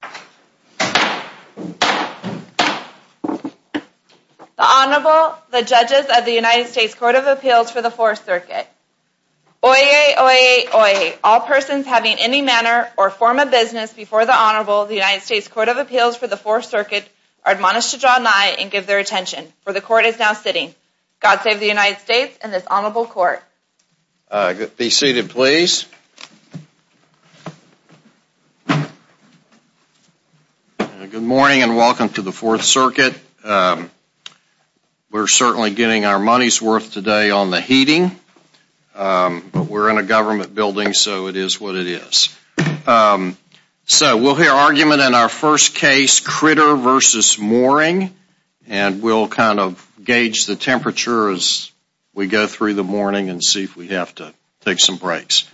The Honorable, the Judges of the United States Court of Appeals for the Fourth Circuit. Oyez, oyez, oyez. All persons having any manner or form of business before the Honorable, the United States Court of Appeals for the Fourth Circuit, are admonished to draw nigh and give their attention, for the Court is now sitting. God save the United States and this Honorable Court. Be seated, please. Good morning and welcome to the Fourth Circuit. We're certainly getting our money's worth today on the heating, but we're in a government building so it is what it is. So we'll hear argument in our first case, Kritter v. Mooring, and we'll kind of gauge the temperature as we go through the morning and see if we have to take some breaks.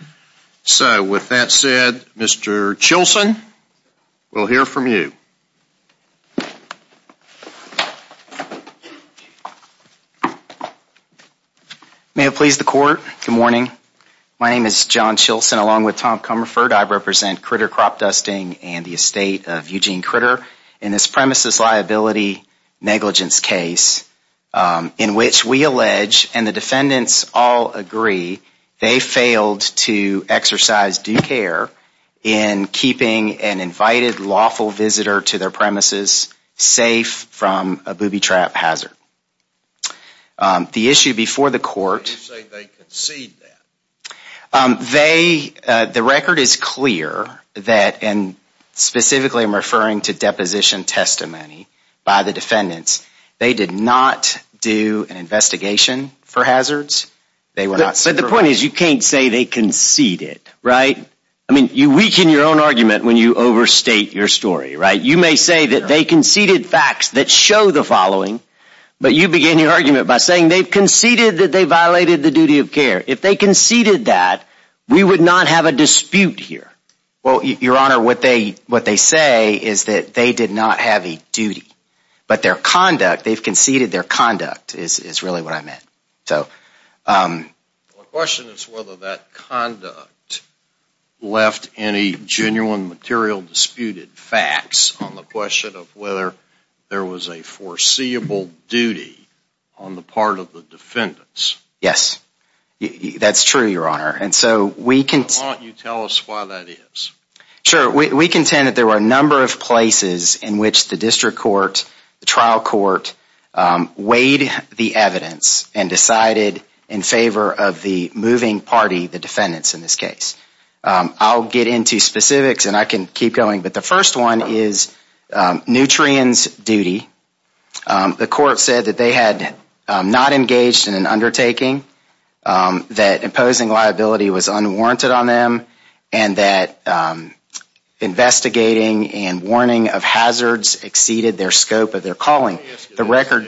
So with that said, Mr. Chilson, we'll hear from you. May it please the Court, good morning. My name is John Chilson, along with Tom Comerford. I represent Kritter Cropdusting and the estate of Eugene Kritter in this premises liability negligence case in which we allege, and the defendants all agree, they failed to exercise due care in keeping an invited lawful visitor to their premises safe from a booby trap hazard. The issue before the Court, they, the record is clear that, and specifically I'm referring to deposition testimony by the defendants, they did not do an investigation for hazards. But the point is you can't say they conceded, right? I mean, you weaken your own argument when you overstate your story, right? You may say that they conceded facts that show the following, but you begin your argument by saying they've conceded that they violated the duty of care. If they conceded that, we would not have a dispute here. Well, Your Honor, what they say is that they did not have a duty, but their conduct, they've conceded their conduct is really what I meant. The question is whether that conduct left any genuine material disputed facts on the question of whether there was a foreseeable duty on the part of the defendants. Yes, that's true, Your Honor. Why don't you tell us why that is? Sure, we contend that there were a number of places in which the district court, the trial court, weighed the evidence and decided in favor of the moving party, the defendants in this case. I'll get into specifics and I can keep going, but the first one is Nutrien's duty. The court said that they had not engaged in an undertaking, that imposing liability was unwarranted on them, and that investigating and warning of hazards exceeded their scope of their calling. Let me ask you this,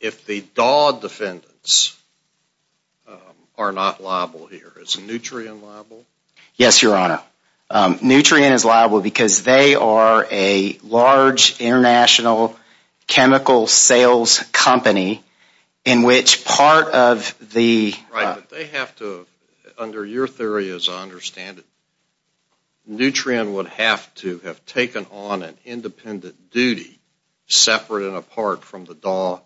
if the Dawd defendants are not liable here, is Nutrien liable? Yes, Your Honor. Nutrien is liable because they are a large international chemical sales company in which part of the… Right, but they have to, under your theory as I understand it, Nutrien would have to have taken on an independent duty separate and apart from the Dawd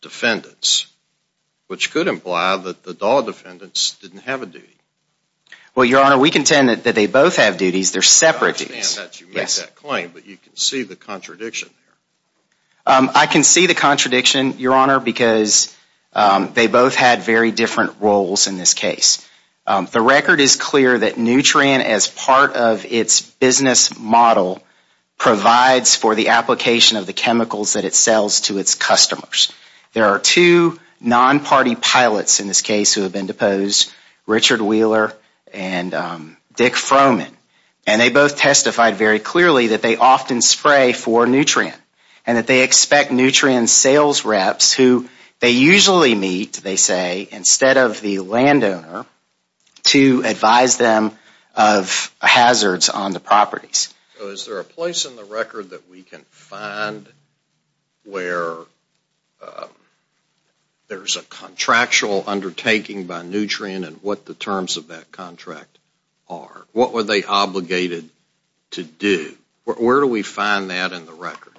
defendants, which could imply that the Dawd defendants didn't have a duty. Well, Your Honor, we contend that they both have duties, they're separate duties. I understand that you make that claim, but you can see the contradiction there. I can see the contradiction, Your Honor, because they both had very different roles in this case. The record is clear that Nutrien, as part of its business model, provides for the application of the chemicals that it sells to its customers. There are two non-party pilots in this case who have been deposed, Richard Wheeler and Dick Froman, and they both testified very clearly that they often spray for Nutrien and that they expect Nutrien sales reps, who they usually meet, they say, instead of the landowner, to advise them of hazards on the properties. So is there a place in the record that we can find where there's a contractual undertaking by Nutrien and what the terms of that contract are? What were they obligated to do? Where do we find that in the record?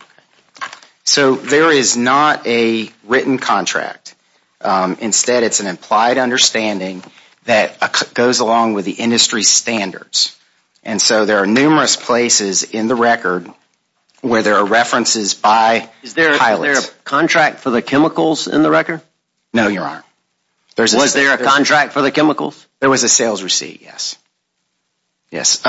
So there is not a written contract. Instead, it's an implied understanding that goes along with the industry standards. And so there are numerous places in the record where there are references by pilots. Is there a contract for the chemicals in the record? No, Your Honor. Was there a contract for the chemicals? There was a sales receipt, yes.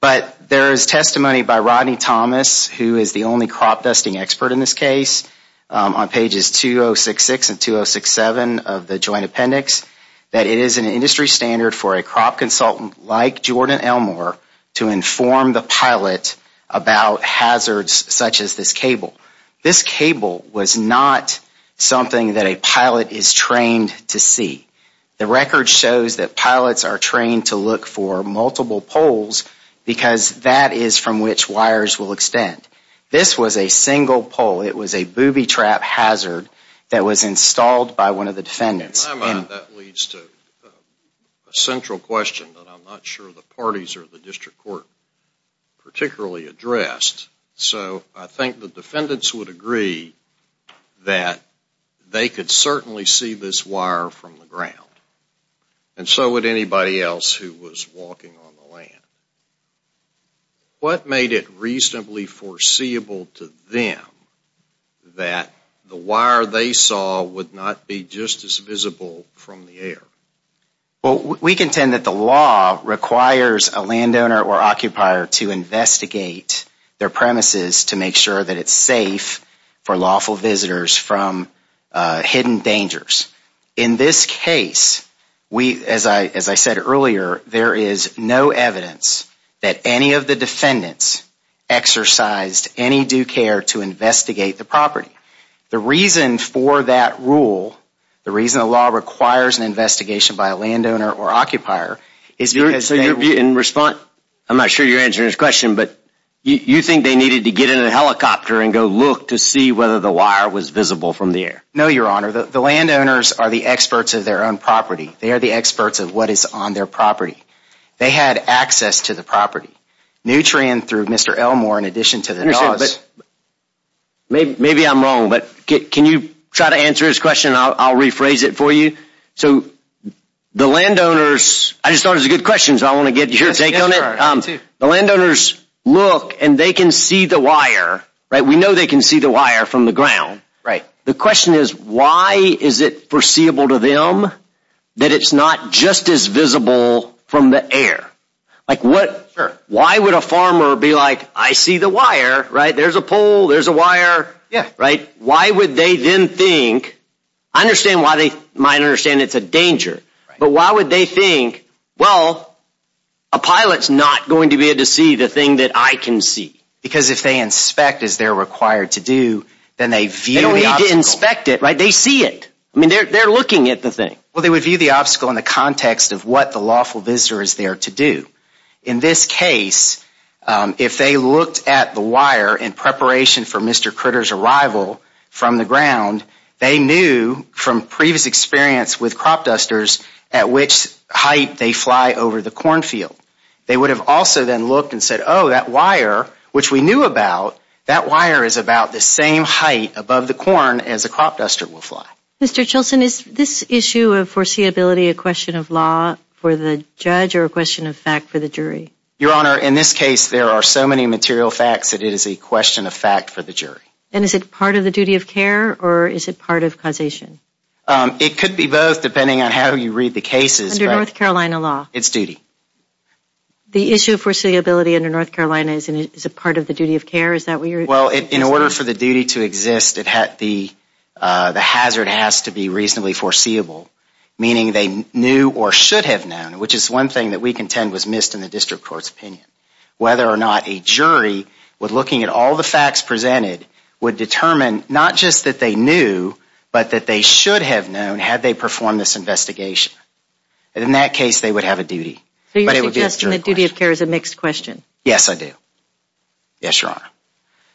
But there is testimony by Rodney Thomas, who is the only crop dusting expert in this case, on pages 2066 and 2067 of the joint appendix, that it is an industry standard for a crop consultant like Jordan Elmore to inform the pilot about hazards such as this cable. This cable was not something that a pilot is trained to see. The record shows that pilots are trained to look for multiple poles because that is from which wires will extend. This was a single pole. It was a booby trap hazard that was installed by one of the defendants. In my mind, that leads to a central question that I'm not sure the parties or the district court particularly addressed. So I think the defendants would agree that they could certainly see this wire from the ground. And so would anybody else who was walking on the land. What made it reasonably foreseeable to them that the wire they saw would not be just as visible from the air? Well, we contend that the law requires a landowner or occupier to investigate their premises to make sure that it's safe for lawful visitors from hidden dangers. In this case, as I said earlier, there is no evidence that any of the defendants exercised any due care to investigate the property. The reason for that rule, the reason the law requires an investigation by a landowner or occupier, is because... So in response, I'm not sure you're answering this question, but you think they needed to get in a helicopter and go look to see whether the wire was visible from the air? No, Your Honor. The landowners are the experts of their own property. They are the experts of what is on their property. They had access to the property. Nutrien, through Mr. Elmore, in addition to the... Maybe I'm wrong, but can you try to answer his question? I'll rephrase it for you. So the landowners... I just thought it was a good question, so I want to get your take on it. The landowners look and they can see the wire, right? We know they can see the wire from the ground. The question is, why is it foreseeable to them that it's not just as visible from the air? Why would a farmer be like, I see the wire, right? There's a pole, there's a wire. Why would they then think... I understand why they might understand it's a danger. But why would they think, well, a pilot's not going to be able to see the thing that I can see? Because if they inspect, as they're required to do, then they view the obstacle. They don't need to inspect it, right? They see it. I mean, they're looking at the thing. Well, they would view the obstacle in the context of what the lawful visitor is there to do. In this case, if they looked at the wire in preparation for Mr. Critter's arrival from the ground, they knew from previous experience with crop dusters at which height they fly over the cornfield. They would have also then looked and said, oh, that wire, which we knew about, that wire is about the same height above the corn as a crop duster will fly. Mr. Chilson, is this issue of foreseeability a question of law for the judge or a question of fact for the jury? Your Honor, in this case, there are so many material facts that it is a question of fact for the jury. And is it part of the duty of care or is it part of causation? It could be both, depending on how you read the cases. Under North Carolina law? It's duty. The issue of foreseeability under North Carolina, is it part of the duty of care? Well, in order for the duty to exist, the hazard has to be reasonably foreseeable, meaning they knew or should have known, which is one thing that we contend was missed in the district court's opinion. Whether or not a jury, with looking at all the facts presented, would determine not just that they knew, but that they should have known had they performed this investigation. In that case, they would have a duty. So you're suggesting that duty of care is a mixed question? Yes, I do. Yes, Your Honor.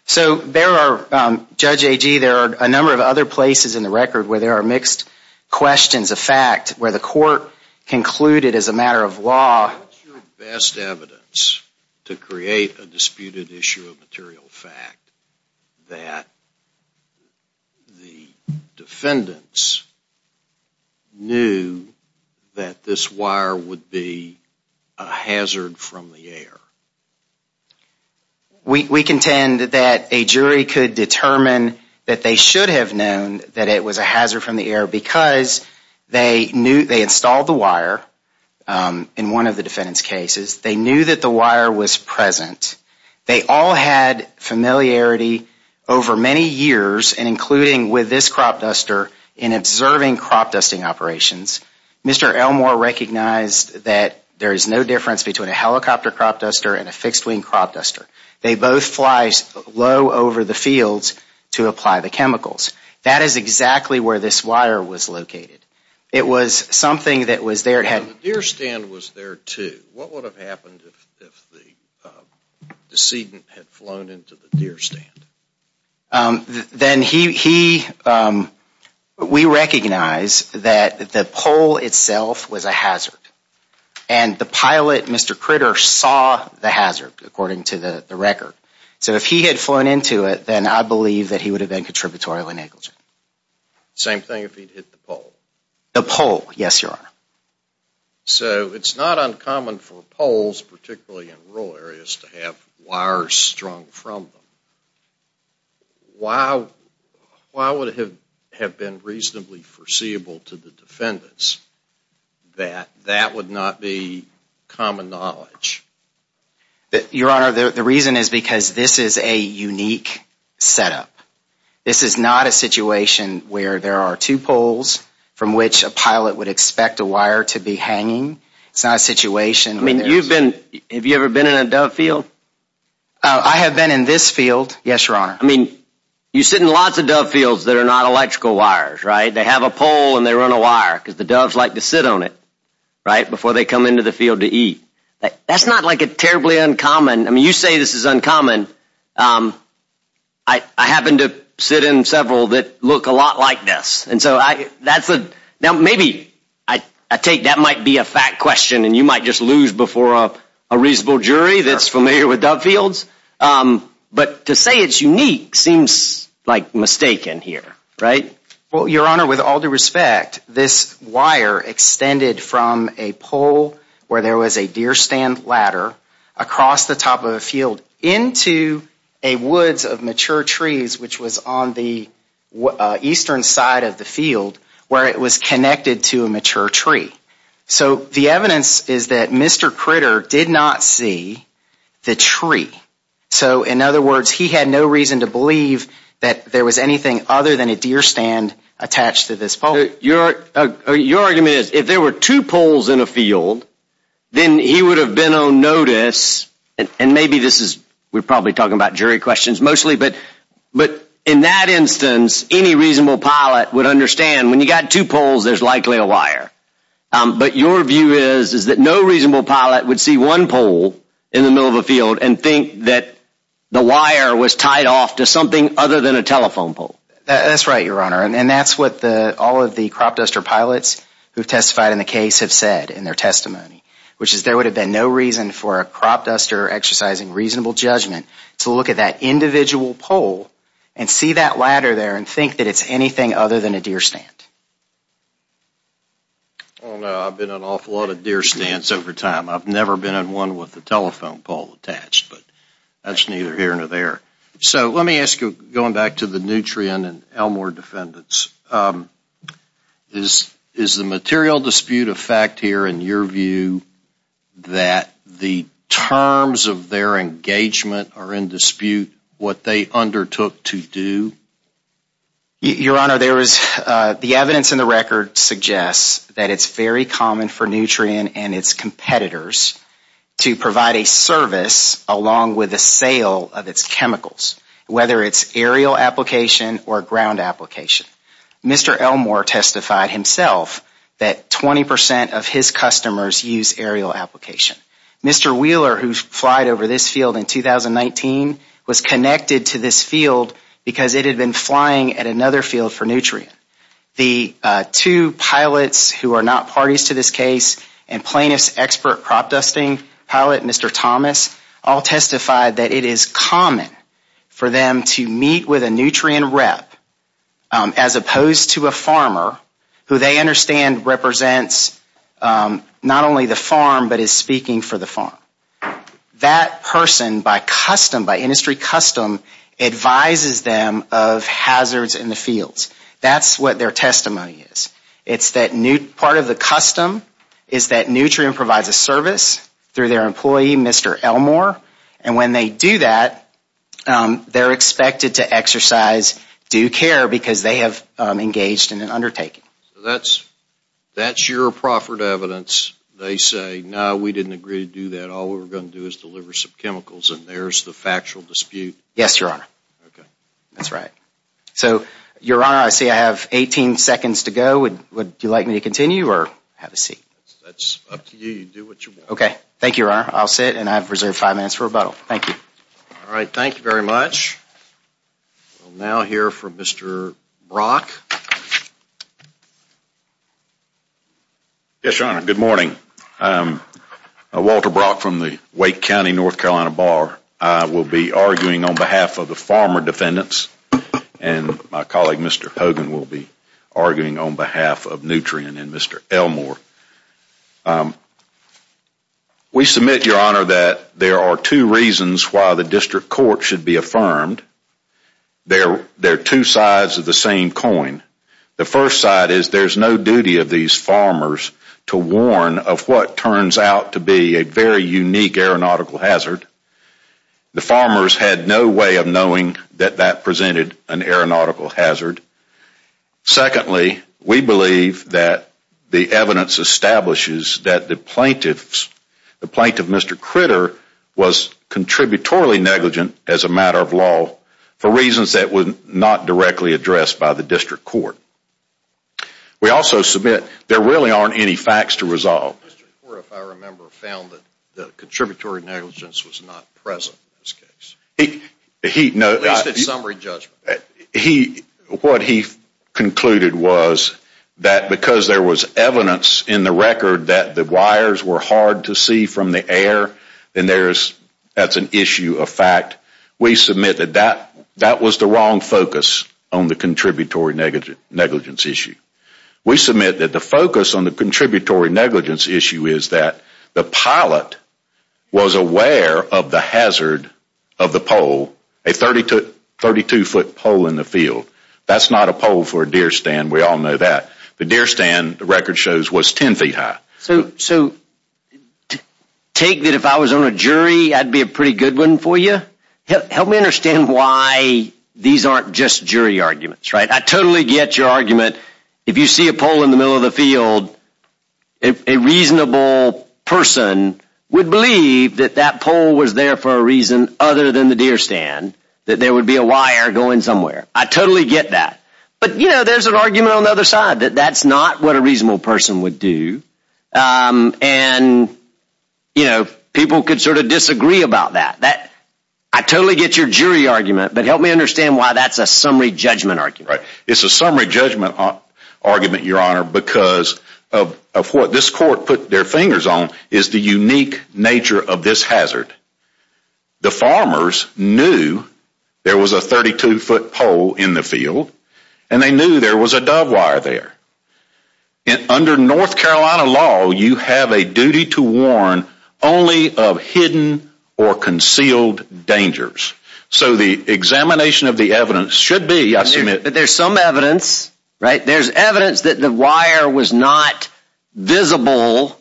So there are, Judge Agee, there are a number of other places in the record where there are mixed questions of fact, where the court concluded as a matter of law. What's your best evidence to create a disputed issue of material fact that the defendants knew that this wire would be a hazard from the air? We contend that a jury could determine that they should have known that it was a hazard from the air because they installed the wire in one of the defendant's cases. They knew that the wire was present. They all had familiarity over many years, and including with this crop duster, in observing crop dusting operations. Mr. Elmore recognized that there is no difference between a helicopter crop duster and a fixed-wing crop duster. They both fly low over the fields to apply the chemicals. That is exactly where this wire was located. It was something that was there. The deer stand was there, too. What would have happened if the decedent had flown into the deer stand? Then he, we recognize that the pole itself was a hazard. And the pilot, Mr. Critter, saw the hazard, according to the record. So if he had flown into it, then I believe that he would have been contributorial and negligent. Same thing if he'd hit the pole? The pole, yes, Your Honor. So it's not uncommon for poles, particularly in rural areas, to have wires strung from them. Why would it have been reasonably foreseeable to the defendants that that would not be common knowledge? Your Honor, the reason is because this is a unique setup. This is not a situation where there are two poles from which a pilot would expect a wire to be hanging. It's not a situation... I mean, you've been, have you ever been in a dove field? I have been in this field, yes, Your Honor. I mean, you sit in lots of dove fields that are not electrical wires, right? They have a pole and they run a wire because the doves like to sit on it, right, before they come into the field to eat. That's not, like, terribly uncommon. I mean, you say this is uncommon. I happen to sit in several that look a lot like this. And so that's a... Now, maybe I take that might be a fact question and you might just lose before a reasonable jury that's familiar with dove fields. But to say it's unique seems, like, mistaken here, right? Well, Your Honor, with all due respect, this wire extended from a pole where there was a deer stand ladder across the top of a field into a woods of mature trees, which was on the eastern side of the field where it was connected to a mature tree. So the evidence is that Mr. Critter did not see the tree. So, in other words, he had no reason to believe that there was anything other than a deer stand attached to this pole. Your argument is if there were two poles in a field, then he would have been on notice. And maybe this is... We're probably talking about jury questions mostly. But in that instance, any reasonable pilot would understand when you've got two poles, there's likely a wire. But your view is that no reasonable pilot would see one pole in the middle of a field and think that the wire was tied off to something other than a telephone pole. That's right, Your Honor. And that's what all of the crop duster pilots who testified in the case have said in their testimony, which is there would have been no reason for a crop duster exercising reasonable judgment to look at that individual pole and see that ladder there and think that it's anything other than a deer stand. Oh, no, I've been in an awful lot of deer stands over time. I've never been in one with a telephone pole attached, but that's neither here nor there. So let me ask you, going back to the Nutrien and Elmore defendants, is the material dispute a fact here in your view that the terms of their engagement are in dispute what they undertook to do? Your Honor, the evidence in the record suggests that it's very common for Nutrien and its competitors to provide a service along with the sale of its chemicals, whether it's aerial application or ground application. Mr. Elmore testified himself that 20 percent of his customers use aerial application. Mr. Wheeler, who's flied over this field in 2019, was connected to this field because it had been flying at another field for Nutrien. The two pilots who are not parties to this case and plaintiff's expert crop dusting pilot, Mr. Thomas, all testified that it is common for them to meet with a Nutrien rep, as opposed to a farmer, who they understand represents not only the farm, but is speaking for the farm. That person, by industry custom, advises them of hazards in the fields. That's what their testimony is. It's that part of the custom is that Nutrien provides a service through their employee, Mr. Elmore, and when they do that, they're expected to exercise due care because they have engaged in an undertaking. So that's your proffered evidence. They say, no, we didn't agree to do that. All we were going to do is deliver some chemicals, and there's the factual dispute. Yes, Your Honor. Okay. That's right. So, Your Honor, I see I have 18 seconds to go. Would you like me to continue or have a seat? That's up to you. You do what you want. Okay. Thank you, Your Honor. I'll sit, and I have reserved five minutes for rebuttal. Thank you. All right. Thank you very much. We'll now hear from Mr. Brock. Yes, Your Honor. Good morning. Walter Brock from the Wake County North Carolina Bar. I will be arguing on behalf of the farmer defendants, and my colleague, Mr. Hogan, will be arguing on behalf of Nutrien and Mr. Elmore. We submit, Your Honor, that there are two reasons why the district court should be affirmed. They're two sides of the same coin. The first side is there's no duty of these farmers to warn of what turns out to be a very unique aeronautical hazard. The farmers had no way of knowing that that presented an aeronautical hazard. Secondly, we believe that the evidence establishes that the plaintiff, Mr. Critter, was contributory negligent as a matter of law for reasons that were not directly addressed by the district court. We also submit there really aren't any facts to resolve. The district court, if I remember, found that the contributory negligence was not present in this case. At least in summary judgment. What he concluded was that because there was evidence in the record that the wires were hard to see from the air, and that's an issue of fact, we submit that that was the wrong focus on the contributory negligence issue. We submit that the focus on the contributory negligence issue is that the pilot was aware of the hazard of the pole, a 32-foot pole in the field. That's not a pole for a deer stand, we all know that. The deer stand, the record shows, was 10 feet high. So take that if I was on a jury, I'd be a pretty good one for you. Help me understand why these aren't just jury arguments, right? I totally get your argument. If you see a pole in the middle of the field, a reasonable person would believe that that pole was there for a reason other than the deer stand, that there would be a wire going somewhere. I totally get that. But, you know, there's an argument on the other side that that's not what a reasonable person would do. And, you know, people could sort of disagree about that. I totally get your jury argument, but help me understand why that's a summary judgment argument. It's a summary judgment argument, Your Honor, because of what this court put their fingers on is the unique nature of this hazard. The farmers knew there was a 32-foot pole in the field, and they knew there was a dove wire there. Under North Carolina law, you have a duty to warn only of hidden or concealed dangers. So the examination of the evidence should be, I submit. But there's some evidence, right? There's evidence that the wire was not visible,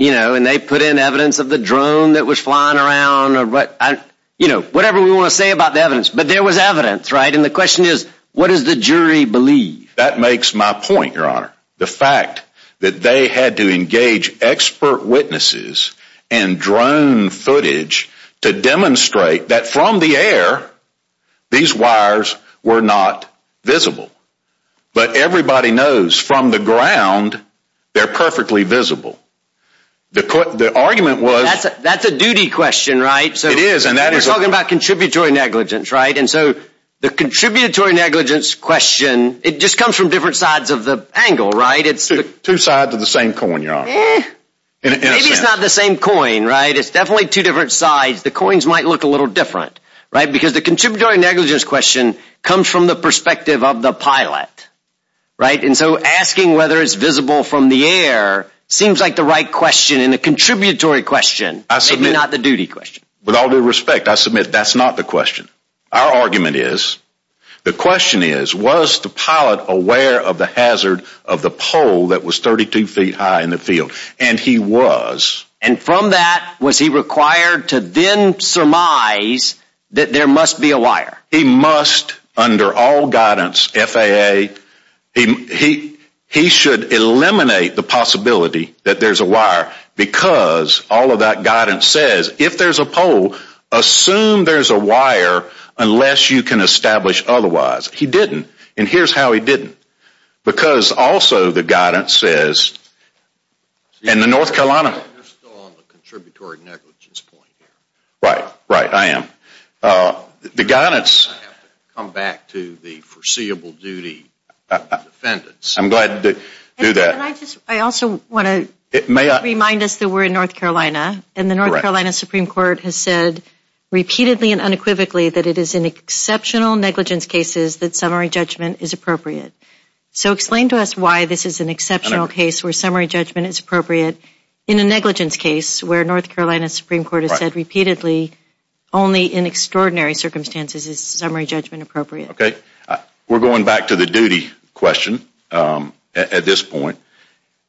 you know, and they put in evidence of the drone that was flying around or whatever we want to say about the evidence. But there was evidence, right? And the question is, what does the jury believe? That makes my point, Your Honor. The fact that they had to engage expert witnesses and drone footage to demonstrate that from the air these wires were not visible. But everybody knows from the ground they're perfectly visible. The argument was. That's a duty question, right? It is, and that is. We're talking about contributory negligence, right? And so the contributory negligence question, it just comes from different sides of the angle, right? Two sides of the same coin, Your Honor. Maybe it's not the same coin, right? It's definitely two different sides. The coins might look a little different, right? Because the contributory negligence question comes from the perspective of the pilot, right? And so asking whether it's visible from the air seems like the right question and the contributory question, maybe not the duty question. With all due respect, I submit that's not the question. Our argument is, the question is, was the pilot aware of the hazard of the pole that was 32 feet high in the field? And he was. And from that, was he required to then surmise that there must be a wire? He must, under all guidance, FAA, he should eliminate the possibility that there's a wire. Because all of that guidance says, if there's a pole, assume there's a wire unless you can establish otherwise. He didn't. And here's how he didn't. Because also the guidance says, in the North Carolina. You're still on the contributory negligence point here. Right. Right, I am. The guidance. I have to come back to the foreseeable duty defendants. I'm glad to do that. I also want to remind us that we're in North Carolina. And the North Carolina Supreme Court has said repeatedly and unequivocally that it is in exceptional negligence cases that summary judgment is appropriate. So explain to us why this is an exceptional case where summary judgment is appropriate in a negligence case where North Carolina Supreme Court has said repeatedly only in extraordinary circumstances is summary judgment appropriate. We're going back to the duty question at this point.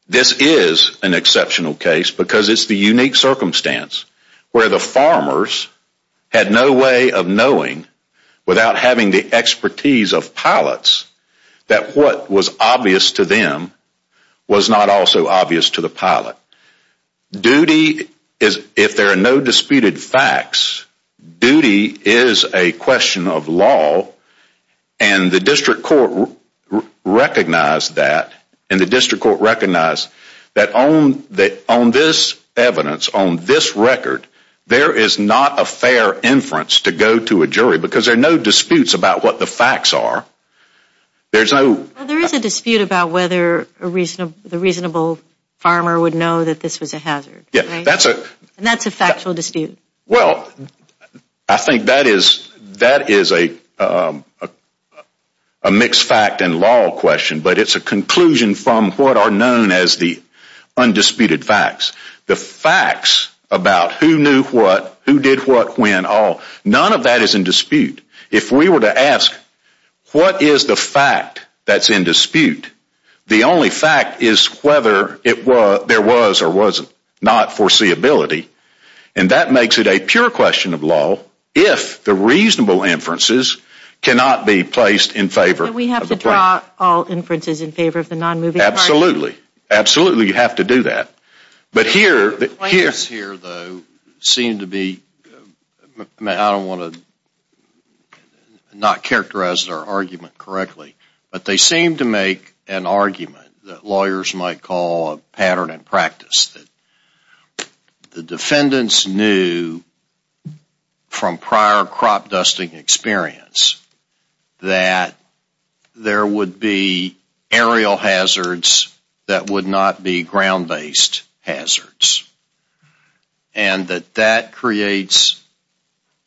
This is an exceptional case because it's the unique circumstance where the farmers had no way of knowing without having the expertise of pilots that what was obvious to them was not also obvious to the pilot. Duty, if there are no disputed facts, duty is a question of law. And the district court recognized that. And the district court recognized that on this evidence, on this record, there is not a fair inference to go to a jury because there are no disputes about what the facts are. There is a dispute about whether the reasonable farmer would know that this was a hazard. And that's a factual dispute. Well, I think that is a mixed fact and law question. But it's a conclusion from what are known as the undisputed facts. The facts about who knew what, who did what, when, all, none of that is in dispute. If we were to ask what is the fact that's in dispute, the only fact is whether there was or wasn't not foreseeability. And that makes it a pure question of law if the reasonable inferences cannot be placed in favor. We have to draw all inferences in favor of the nonmoving. Absolutely. Absolutely, you have to do that. The claims here, though, seem to be, I don't want to not characterize their argument correctly, but they seem to make an argument that lawyers might call a pattern in practice. The defendants knew from prior crop dusting experience that there would be aerial hazards that would not be ground-based hazards. And that that creates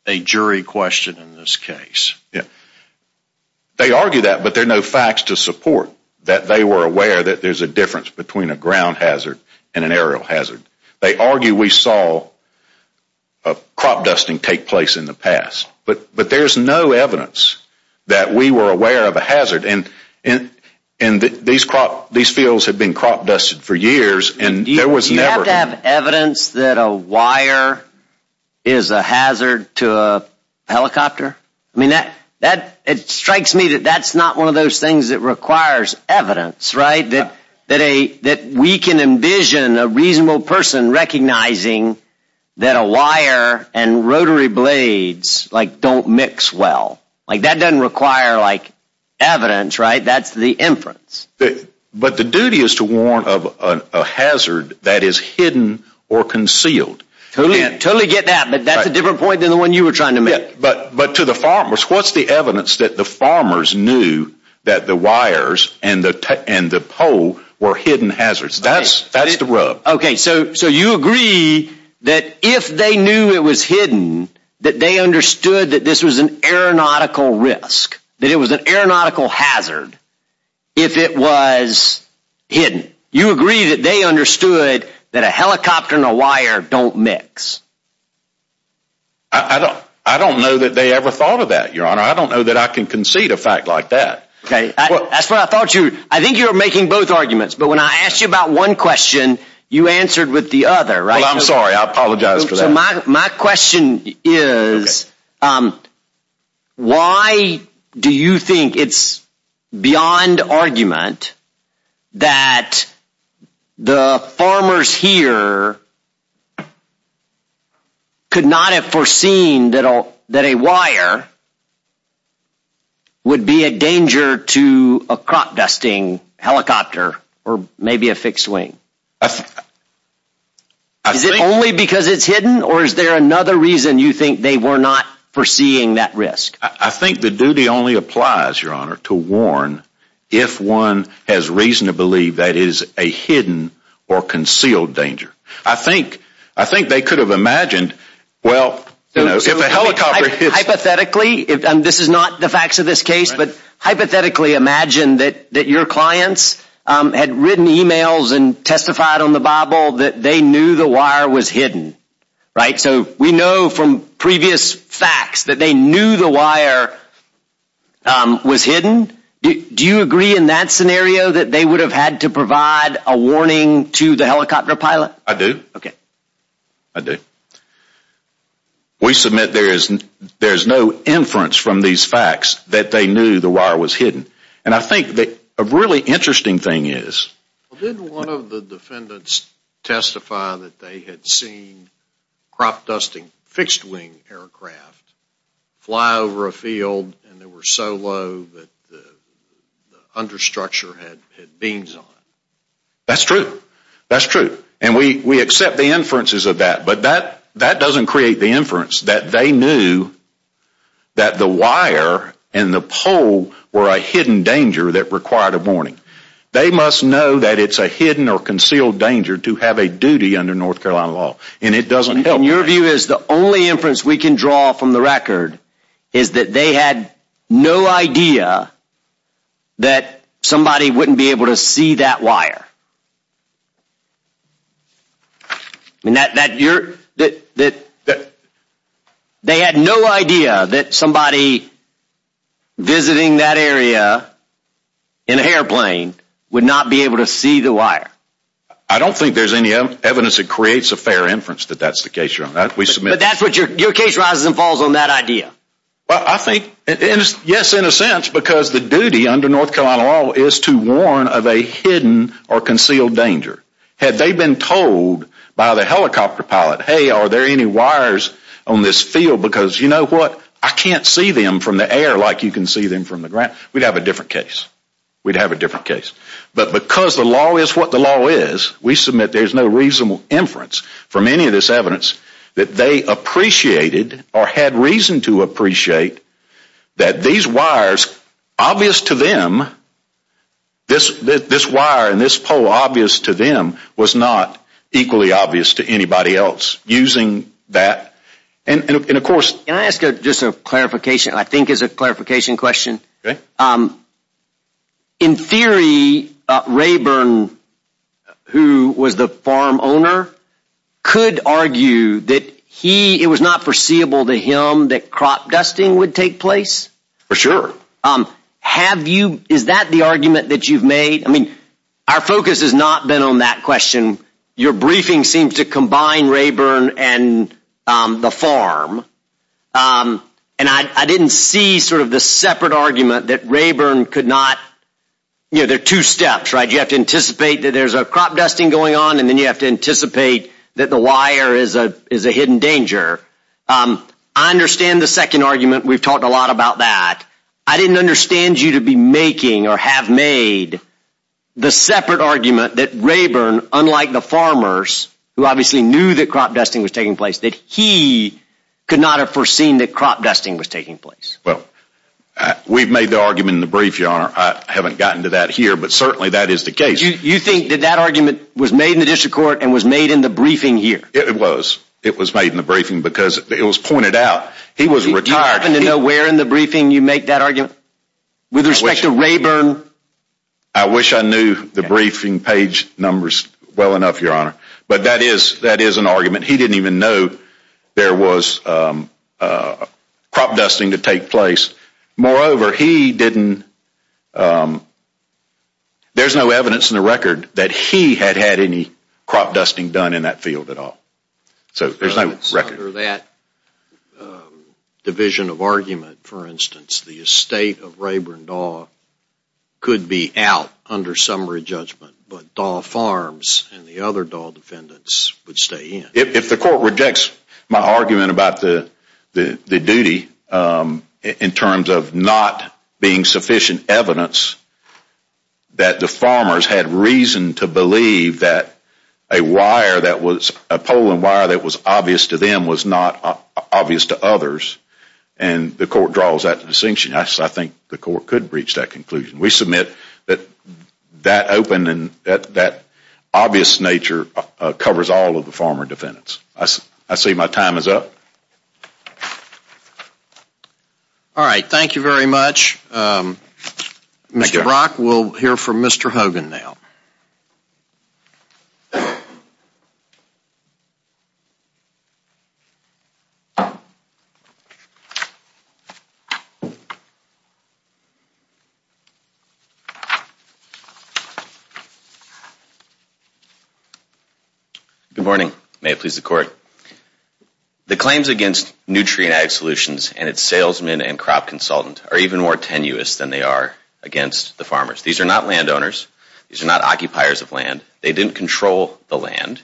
a jury question in this case. They argue that, but there are no facts to support that they were aware that there is a difference between a ground hazard and an aerial hazard. They argue we saw crop dusting take place in the past. But there is no evidence that we were aware of a hazard. And these fields have been crop dusted for years, and there was never Do you have to have evidence that a wire is a hazard to a helicopter? It strikes me that that's not one of those things that requires evidence, right? That we can envision a reasonable person recognizing that a wire and rotary blades don't mix well. That doesn't require evidence, right? That's the inference. But the duty is to warn of a hazard that is hidden or concealed. Totally get that, but that's a different point than the one you were trying to make. But to the farmers, what's the evidence that the farmers knew that the wires and the pole were hidden hazards? That's the rub. Okay, so you agree that if they knew it was hidden, that they understood that this was an aeronautical risk. That it was an aeronautical hazard if it was hidden. You agree that they understood that a helicopter and a wire don't mix. I don't know that they ever thought of that, Your Honor. I don't know that I can concede a fact like that. Okay, that's what I thought you. I think you're making both arguments, but when I asked you about one question, you answered with the other, right? Well, I'm sorry. I apologize for that. My question is, why do you think it's beyond argument that the farmers here could not have foreseen that a wire would be a danger to a crop dusting helicopter or maybe a fixed wing? Is it only because it's hidden, or is there another reason you think they were not foreseeing that risk? I think the duty only applies, Your Honor, to warn if one has reason to believe that it is a hidden or concealed danger. I think they could have imagined, well, if a helicopter hits. Hypothetically, and this is not the facts of this case, but hypothetically imagine that your clients had written emails and testified on the Bible that they knew the wire was hidden, right? So we know from previous facts that they knew the wire was hidden. Do you agree in that scenario that they would have had to provide a warning to the helicopter pilot? I do. I do. We submit there is no inference from these facts that they knew the wire was hidden. And I think that a really interesting thing is Didn't one of the defendants testify that they had seen crop dusting fixed wing aircraft fly over a field and they were so low that the under structure had beams on it? That's true. That's true. And we accept the inferences of that. But that doesn't create the inference that they knew that the wire and the pole were a hidden danger that required a warning. They must know that it's a hidden or concealed danger to have a duty under North Carolina law. And it doesn't help. And your view is the only inference we can draw from the record is that they had no idea that somebody wouldn't be able to see that wire. And that you're that they had no idea that somebody visiting that area in a airplane would not be able to see the wire. I don't think there's any evidence that creates a fair inference that that's the case. We submit that's what your case rises and falls on that idea. Well, I think yes, in a sense, because the duty under North Carolina law is to warn of a hidden or concealed danger. Had they been told by the helicopter pilot, hey, are there any wires on this field? Because you know what? I can't see them from the air like you can see them from the ground. We'd have a different case. We'd have a different case. But because the law is what the law is, we submit there's no reasonable inference from any of this evidence that they appreciated or had reason to appreciate that these wires obvious to them, this wire and this pole obvious to them was not equally obvious to anybody else using that. And of course. Can I ask just a clarification? I think it's a clarification question. Okay. In theory, Rayburn, who was the farm owner, could argue that he it was not foreseeable to him that crop dusting would take place. For sure. Have you is that the argument that you've made? I mean, our focus has not been on that question. Your briefing seems to combine Rayburn and the farm. And I didn't see sort of the separate argument that Rayburn could not. You know, there are two steps, right? You have to anticipate that there's a crop dusting going on, and then you have to anticipate that the wire is a hidden danger. I understand the second argument. We've talked a lot about that. I didn't understand you to be making or have made the separate argument that Rayburn, unlike the farmers, who obviously knew that crop dusting was taking place, that he could not have foreseen that crop dusting was taking place. Well, we've made the argument in the brief, Your Honor. I haven't gotten to that here, but certainly that is the case. You think that that argument was made in the district court and was made in the briefing here? It was. It was made in the briefing because it was pointed out. He was retired. Do you happen to know where in the briefing you make that argument with respect to Rayburn? I wish I knew the briefing page numbers well enough, Your Honor. But that is an argument. He didn't even know there was crop dusting to take place. Moreover, he didn't, there's no evidence in the record that he had had any crop dusting done in that field at all. Under that division of argument, for instance, the estate of Rayburn Daw could be out under summary judgment, but Daw Farms and the other Daw defendants would stay in. If the court rejects my argument about the duty in terms of not being sufficient evidence that the farmers had reason to believe that a wire that was, a polling wire that was obvious to them was not obvious to others, and the court draws that distinction, I think the court could reach that conclusion. We submit that that open and that obvious nature covers all of the farmer defendants. I see my time is up. All right, thank you very much. Mr. Brock, we'll hear from Mr. Hogan now. Good morning. May it please the court. The claims against Nutrien Ag Solutions and its salesmen and crop consultant are even more tenuous than they are against the farmers. These are not landowners. These are not occupiers of land. They didn't control the land.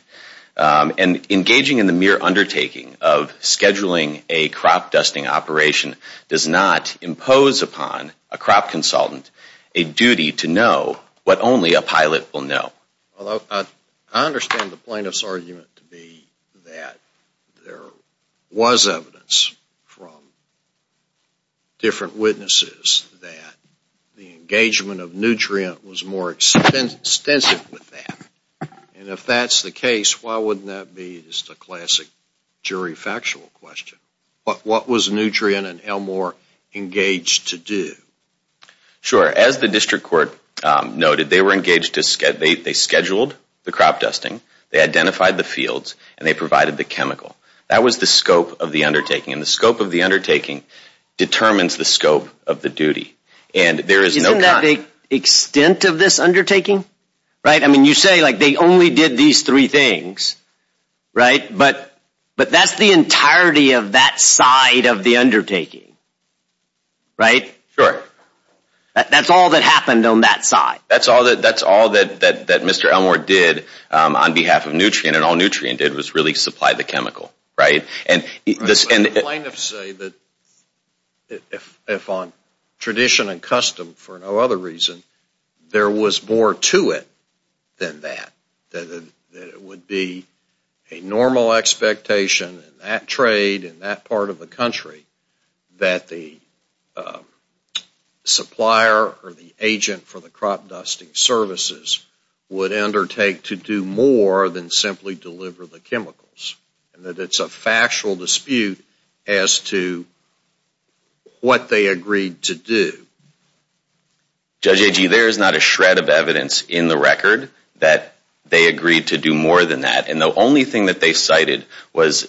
And engaging in the mere undertaking of scheduling a crop dusting operation does not impose upon a crop consultant a duty to know what only a pilot will know. I understand the plaintiff's argument to be that there was evidence from different witnesses that the engagement of Nutrien was more extensive with that. And if that's the case, why wouldn't that be just a classic jury factual question? What was Nutrien and Elmore engaged to do? Sure. As the district court noted, they were engaged to schedule the crop dusting, they identified the fields, and they provided the chemical. That was the scope of the undertaking, and the scope of the undertaking determines the scope of the duty. Isn't that the extent of this undertaking? Right? I mean, you say, like, they only did these three things, right? But that's the entirety of that side of the undertaking, right? Sure. That's all that happened on that side. That's all that Mr. Elmore did on behalf of Nutrien, and all Nutrien did was really supply the chemical, right? The plaintiffs say that if on tradition and custom, for no other reason, there was more to it than that, that it would be a normal expectation in that trade, in that part of the country, that the supplier or the agent for the crop dusting services would undertake to do more than simply deliver the chemicals, and that it's a factual dispute as to what they agreed to do. Judge Agee, there is not a shred of evidence in the record that they agreed to do more than that, and the only thing that they cited was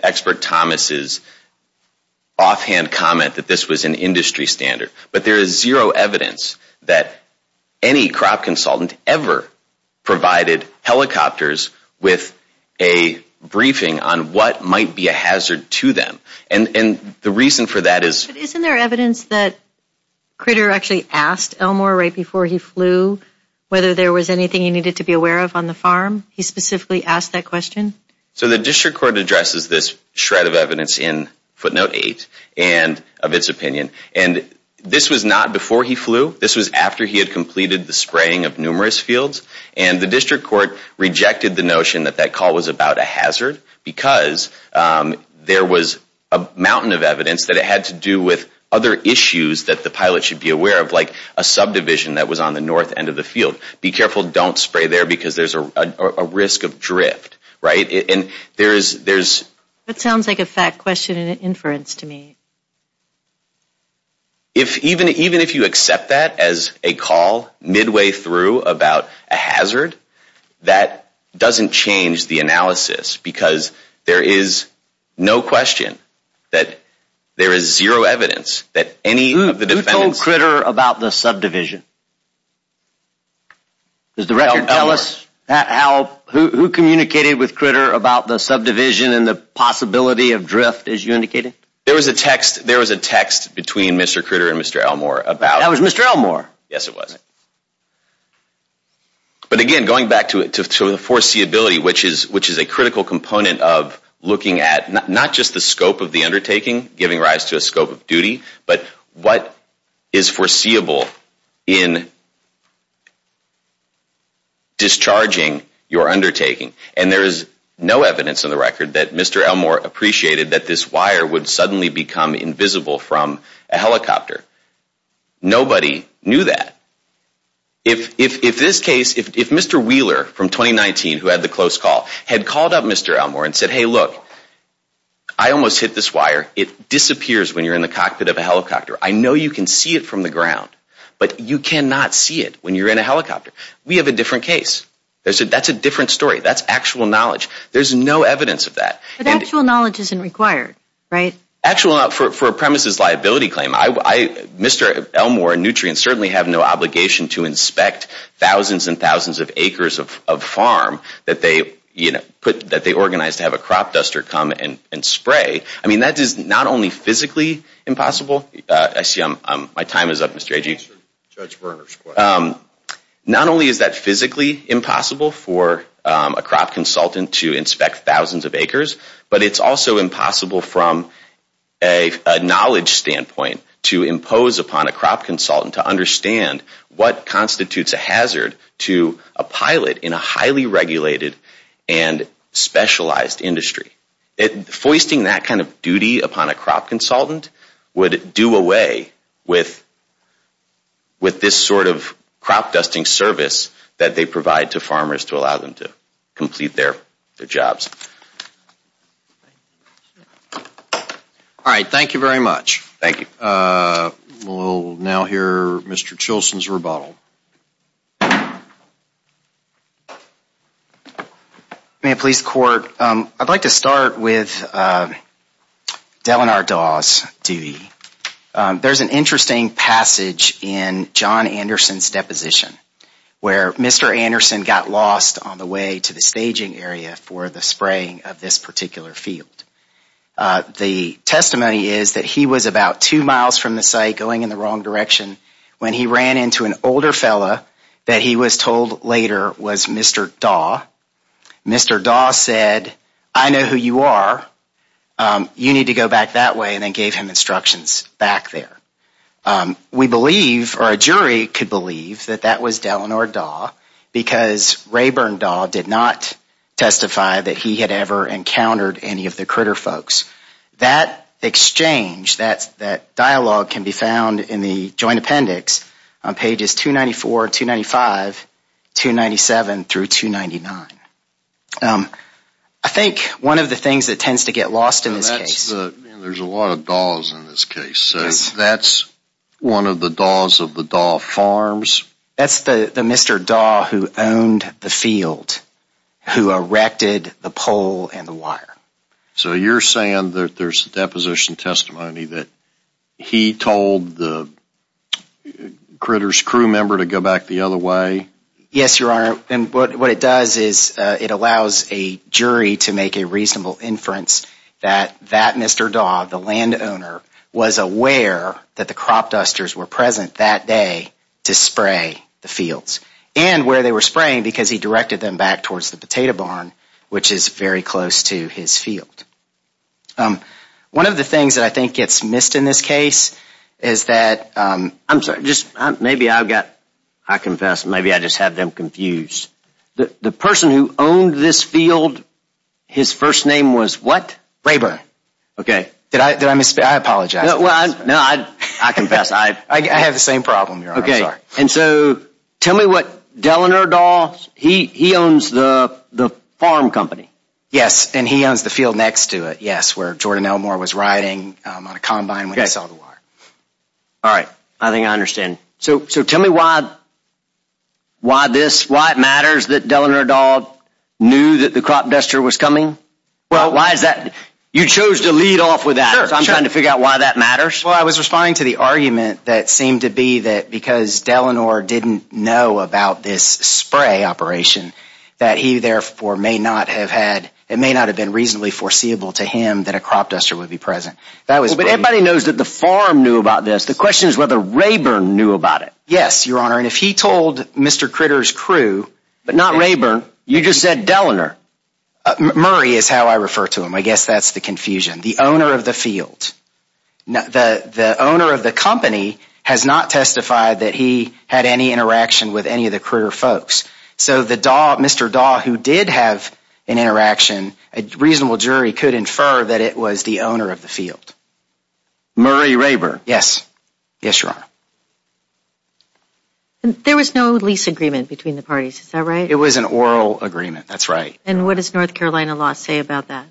Expert Thomas's offhand comment that this was an industry standard. But there is zero evidence that any crop consultant ever provided helicopters with a briefing on what might be a hazard to them. And the reason for that is... But isn't there evidence that Critter actually asked Elmore right before he flew whether there was anything he needed to be aware of on the farm? He specifically asked that question? So the district court addresses this shred of evidence in footnote eight of its opinion, and this was not before he flew, this was after he had completed the spraying of numerous fields, and the district court rejected the notion that that call was about a hazard because there was a mountain of evidence that it had to do with other issues that the pilot should be aware of, like a subdivision that was on the north end of the field. Be careful, don't spray there because there's a risk of drift, right? And there's... That sounds like a fat question and an inference to me. Even if you accept that as a call midway through about a hazard, that doesn't change the analysis because there is no question that there is zero evidence that any of the defendants... Who told Critter about the subdivision? Does the record tell us who communicated with Critter about the subdivision and the possibility of drift, as you indicated? There was a text between Mr. Critter and Mr. Elmore about... That was Mr. Elmore? Yes, it was. But again, going back to the foreseeability, which is a critical component of looking at not just the scope of the undertaking, giving rise to a scope of duty, but what is foreseeable in discharging your undertaking. And there is no evidence in the record that Mr. Elmore appreciated that this wire would suddenly become invisible from a helicopter. Nobody knew that. If this case... If Mr. Wheeler from 2019, who had the close call, had called up Mr. Elmore and said, Hey, look, I almost hit this wire. It disappears when you're in the cockpit of a helicopter. I know you can see it from the ground, but you cannot see it when you're in a helicopter. We have a different case. That's a different story. That's actual knowledge. There's no evidence of that. But actual knowledge isn't required, right? Actual... For a premises liability claim, Mr. Elmore and Nutrien certainly have no obligation to inspect thousands and thousands of acres of farm that they organized to have a crop duster come and spray. I mean, that is not only physically impossible. I see my time is up, Mr. Agee. Judge Berner's question. Not only is that physically impossible for a crop consultant to inspect thousands of acres, but it's also impossible from a knowledge standpoint to impose upon a crop consultant to understand what constitutes a hazard to a pilot in a highly regulated and specialized industry. Foisting that kind of duty upon a crop consultant would do away with this sort of crop dusting service that they provide to farmers to allow them to complete their jobs. All right. Thank you very much. Thank you. We'll now hear Mr. Chilson's rebuttal. Ma'am, police court, I'd like to start with Delanar Dawes' duty. There's an interesting passage in John Anderson's deposition where Mr. Anderson got lost on the way to the staging area for the spraying of this particular field. The testimony is that he was about two miles from the site going in the wrong direction when he ran into an older fellow that he was told later was Mr. Dawes. Mr. Dawes said, I know who you are. You need to go back that way and then gave him instructions back there. We believe, or a jury could believe, that that was Delanar Dawes because Rayburn Dawes did not testify that he had ever encountered any of the critter folks. That exchange, that dialogue can be found in the joint appendix on pages 294, 295, 297 through 299. I think one of the things that tends to get lost in this case. There's a lot of Dawes in this case. That's one of the Dawes of the Daw Farms. That's the Mr. Daw who owned the field, who erected the pole and the wire. So you're saying that there's deposition testimony that he told the critter's crew member to go back the other way? Yes, Your Honor, and what it does is it allows a jury to make a reasonable inference that that Mr. Daw, the landowner, was aware that the crop dusters were present that day to spray the fields and where they were spraying because he directed them back towards the potato barn, which is very close to his field. One of the things that I think gets missed in this case is that, I'm sorry, just maybe I've got, I confess, maybe I just have them confused. The person who owned this field, his first name was what? Rayburn. Okay. Did I miss, I apologize. No, I confess. I have the same problem, Your Honor, I'm sorry. Okay, and so tell me what, Delanor Daw, he owns the farm company? Yes, and he owns the field next to it, yes, where Jordan Elmore was riding on a combine when he saw the wire. All right, I think I understand. So tell me why this, why it matters that Delanor Daw knew that the crop duster was coming? Well, why is that? You chose to lead off with that. I'm trying to figure out why that matters. Well, I was responding to the argument that seemed to be that because Delanor didn't know about this spray operation, that he, therefore, may not have had, it may not have been reasonably foreseeable to him that a crop duster would be present. Well, but everybody knows that the farm knew about this. The question is whether Rayburn knew about it. Yes, Your Honor, and if he told Mr. Critter's crew. But not Rayburn, you just said Delanor. Murray is how I refer to him. I guess that's the confusion. The owner of the field. The owner of the company has not testified that he had any interaction with any of the Critter folks. So the Daw, Mr. Daw, who did have an interaction, a reasonable jury could infer that it was the owner of the field. Murray Rayburn. Yes. Yes, Your Honor. There was no lease agreement between the parties, is that right? It was an oral agreement, that's right. And what does North Carolina law say about that?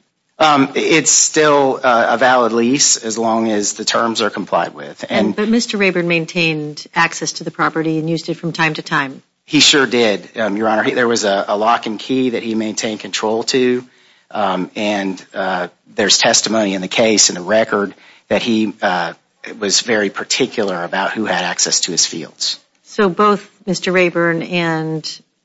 It's still a valid lease as long as the terms are complied with. But Mr. Rayburn maintained access to the property and used it from time to time. He sure did, Your Honor. There was a lock and key that he maintained control to, and there's testimony in the case in the record that he was very particular about who had access to his fields. So both Mr. Rayburn and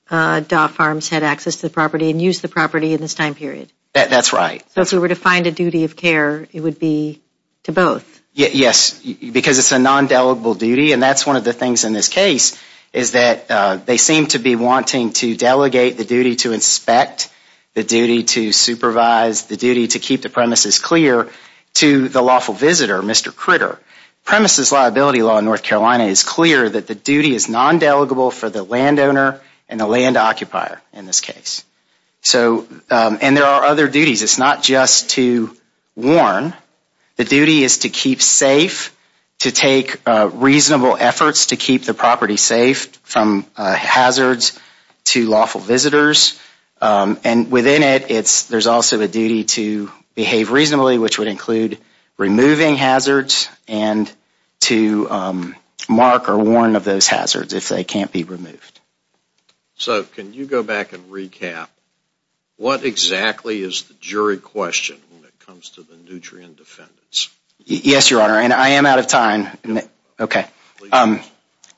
Daw Farms had access to the property and used the property in this time period. That's right. So if we were to find a duty of care, it would be to both? Yes, because it's a non-delegable duty, and that's one of the things in this case is that they seem to be wanting to delegate the duty to inspect, the duty to supervise, the duty to keep the premises clear to the lawful visitor, Mr. Critter. Premises liability law in North Carolina is clear that the duty is non-delegable for the landowner and the land occupier in this case. And there are other duties. It's not just to warn. The duty is to keep safe, to take reasonable efforts to keep the property safe from hazards to lawful visitors. And within it, there's also a duty to behave reasonably, which would include removing hazards and to mark or warn of those hazards if they can't be removed. So can you go back and recap? What exactly is the jury question when it comes to the Nutrien defendants? Yes, Your Honor, and I am out of time. Okay.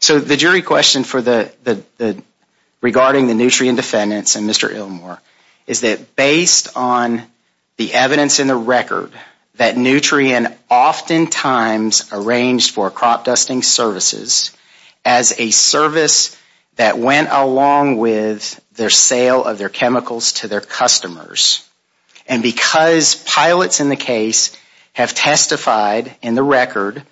So the jury question regarding the Nutrien defendants and Mr. Illmore is that based on the evidence in the record that Nutrien oftentimes arranged for crop dusting services as a service that went along with their sale of their chemicals to their customers. And because pilots in the case have testified in the record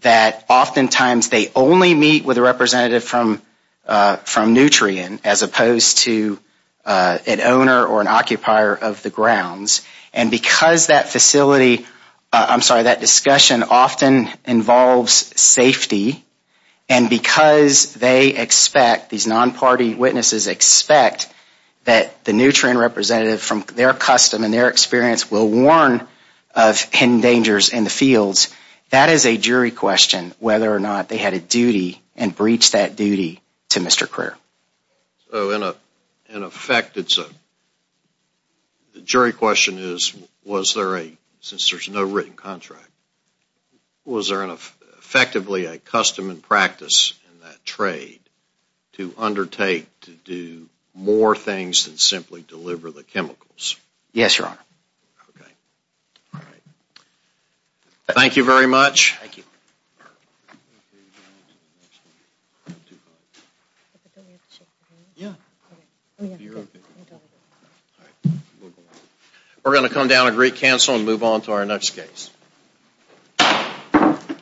that oftentimes they only meet with a representative from Nutrien as opposed to an owner or an occupier of the grounds. And because that facility, I'm sorry, that discussion often involves safety. And because they expect, these non-party witnesses expect, that the Nutrien representative from their custom and their experience will warn of hidden dangers in the fields. That is a jury question, whether or not they had a duty and breached that duty to Mr. Crear. So in effect, the jury question is, was there a, since there is no written contract, was there effectively a custom and practice in that trade to undertake to do more things than simply deliver the chemicals? Yes, Your Honor. Okay. Thank you very much. Thank you. Yeah. We're going to come down and recancel and move on to our next case.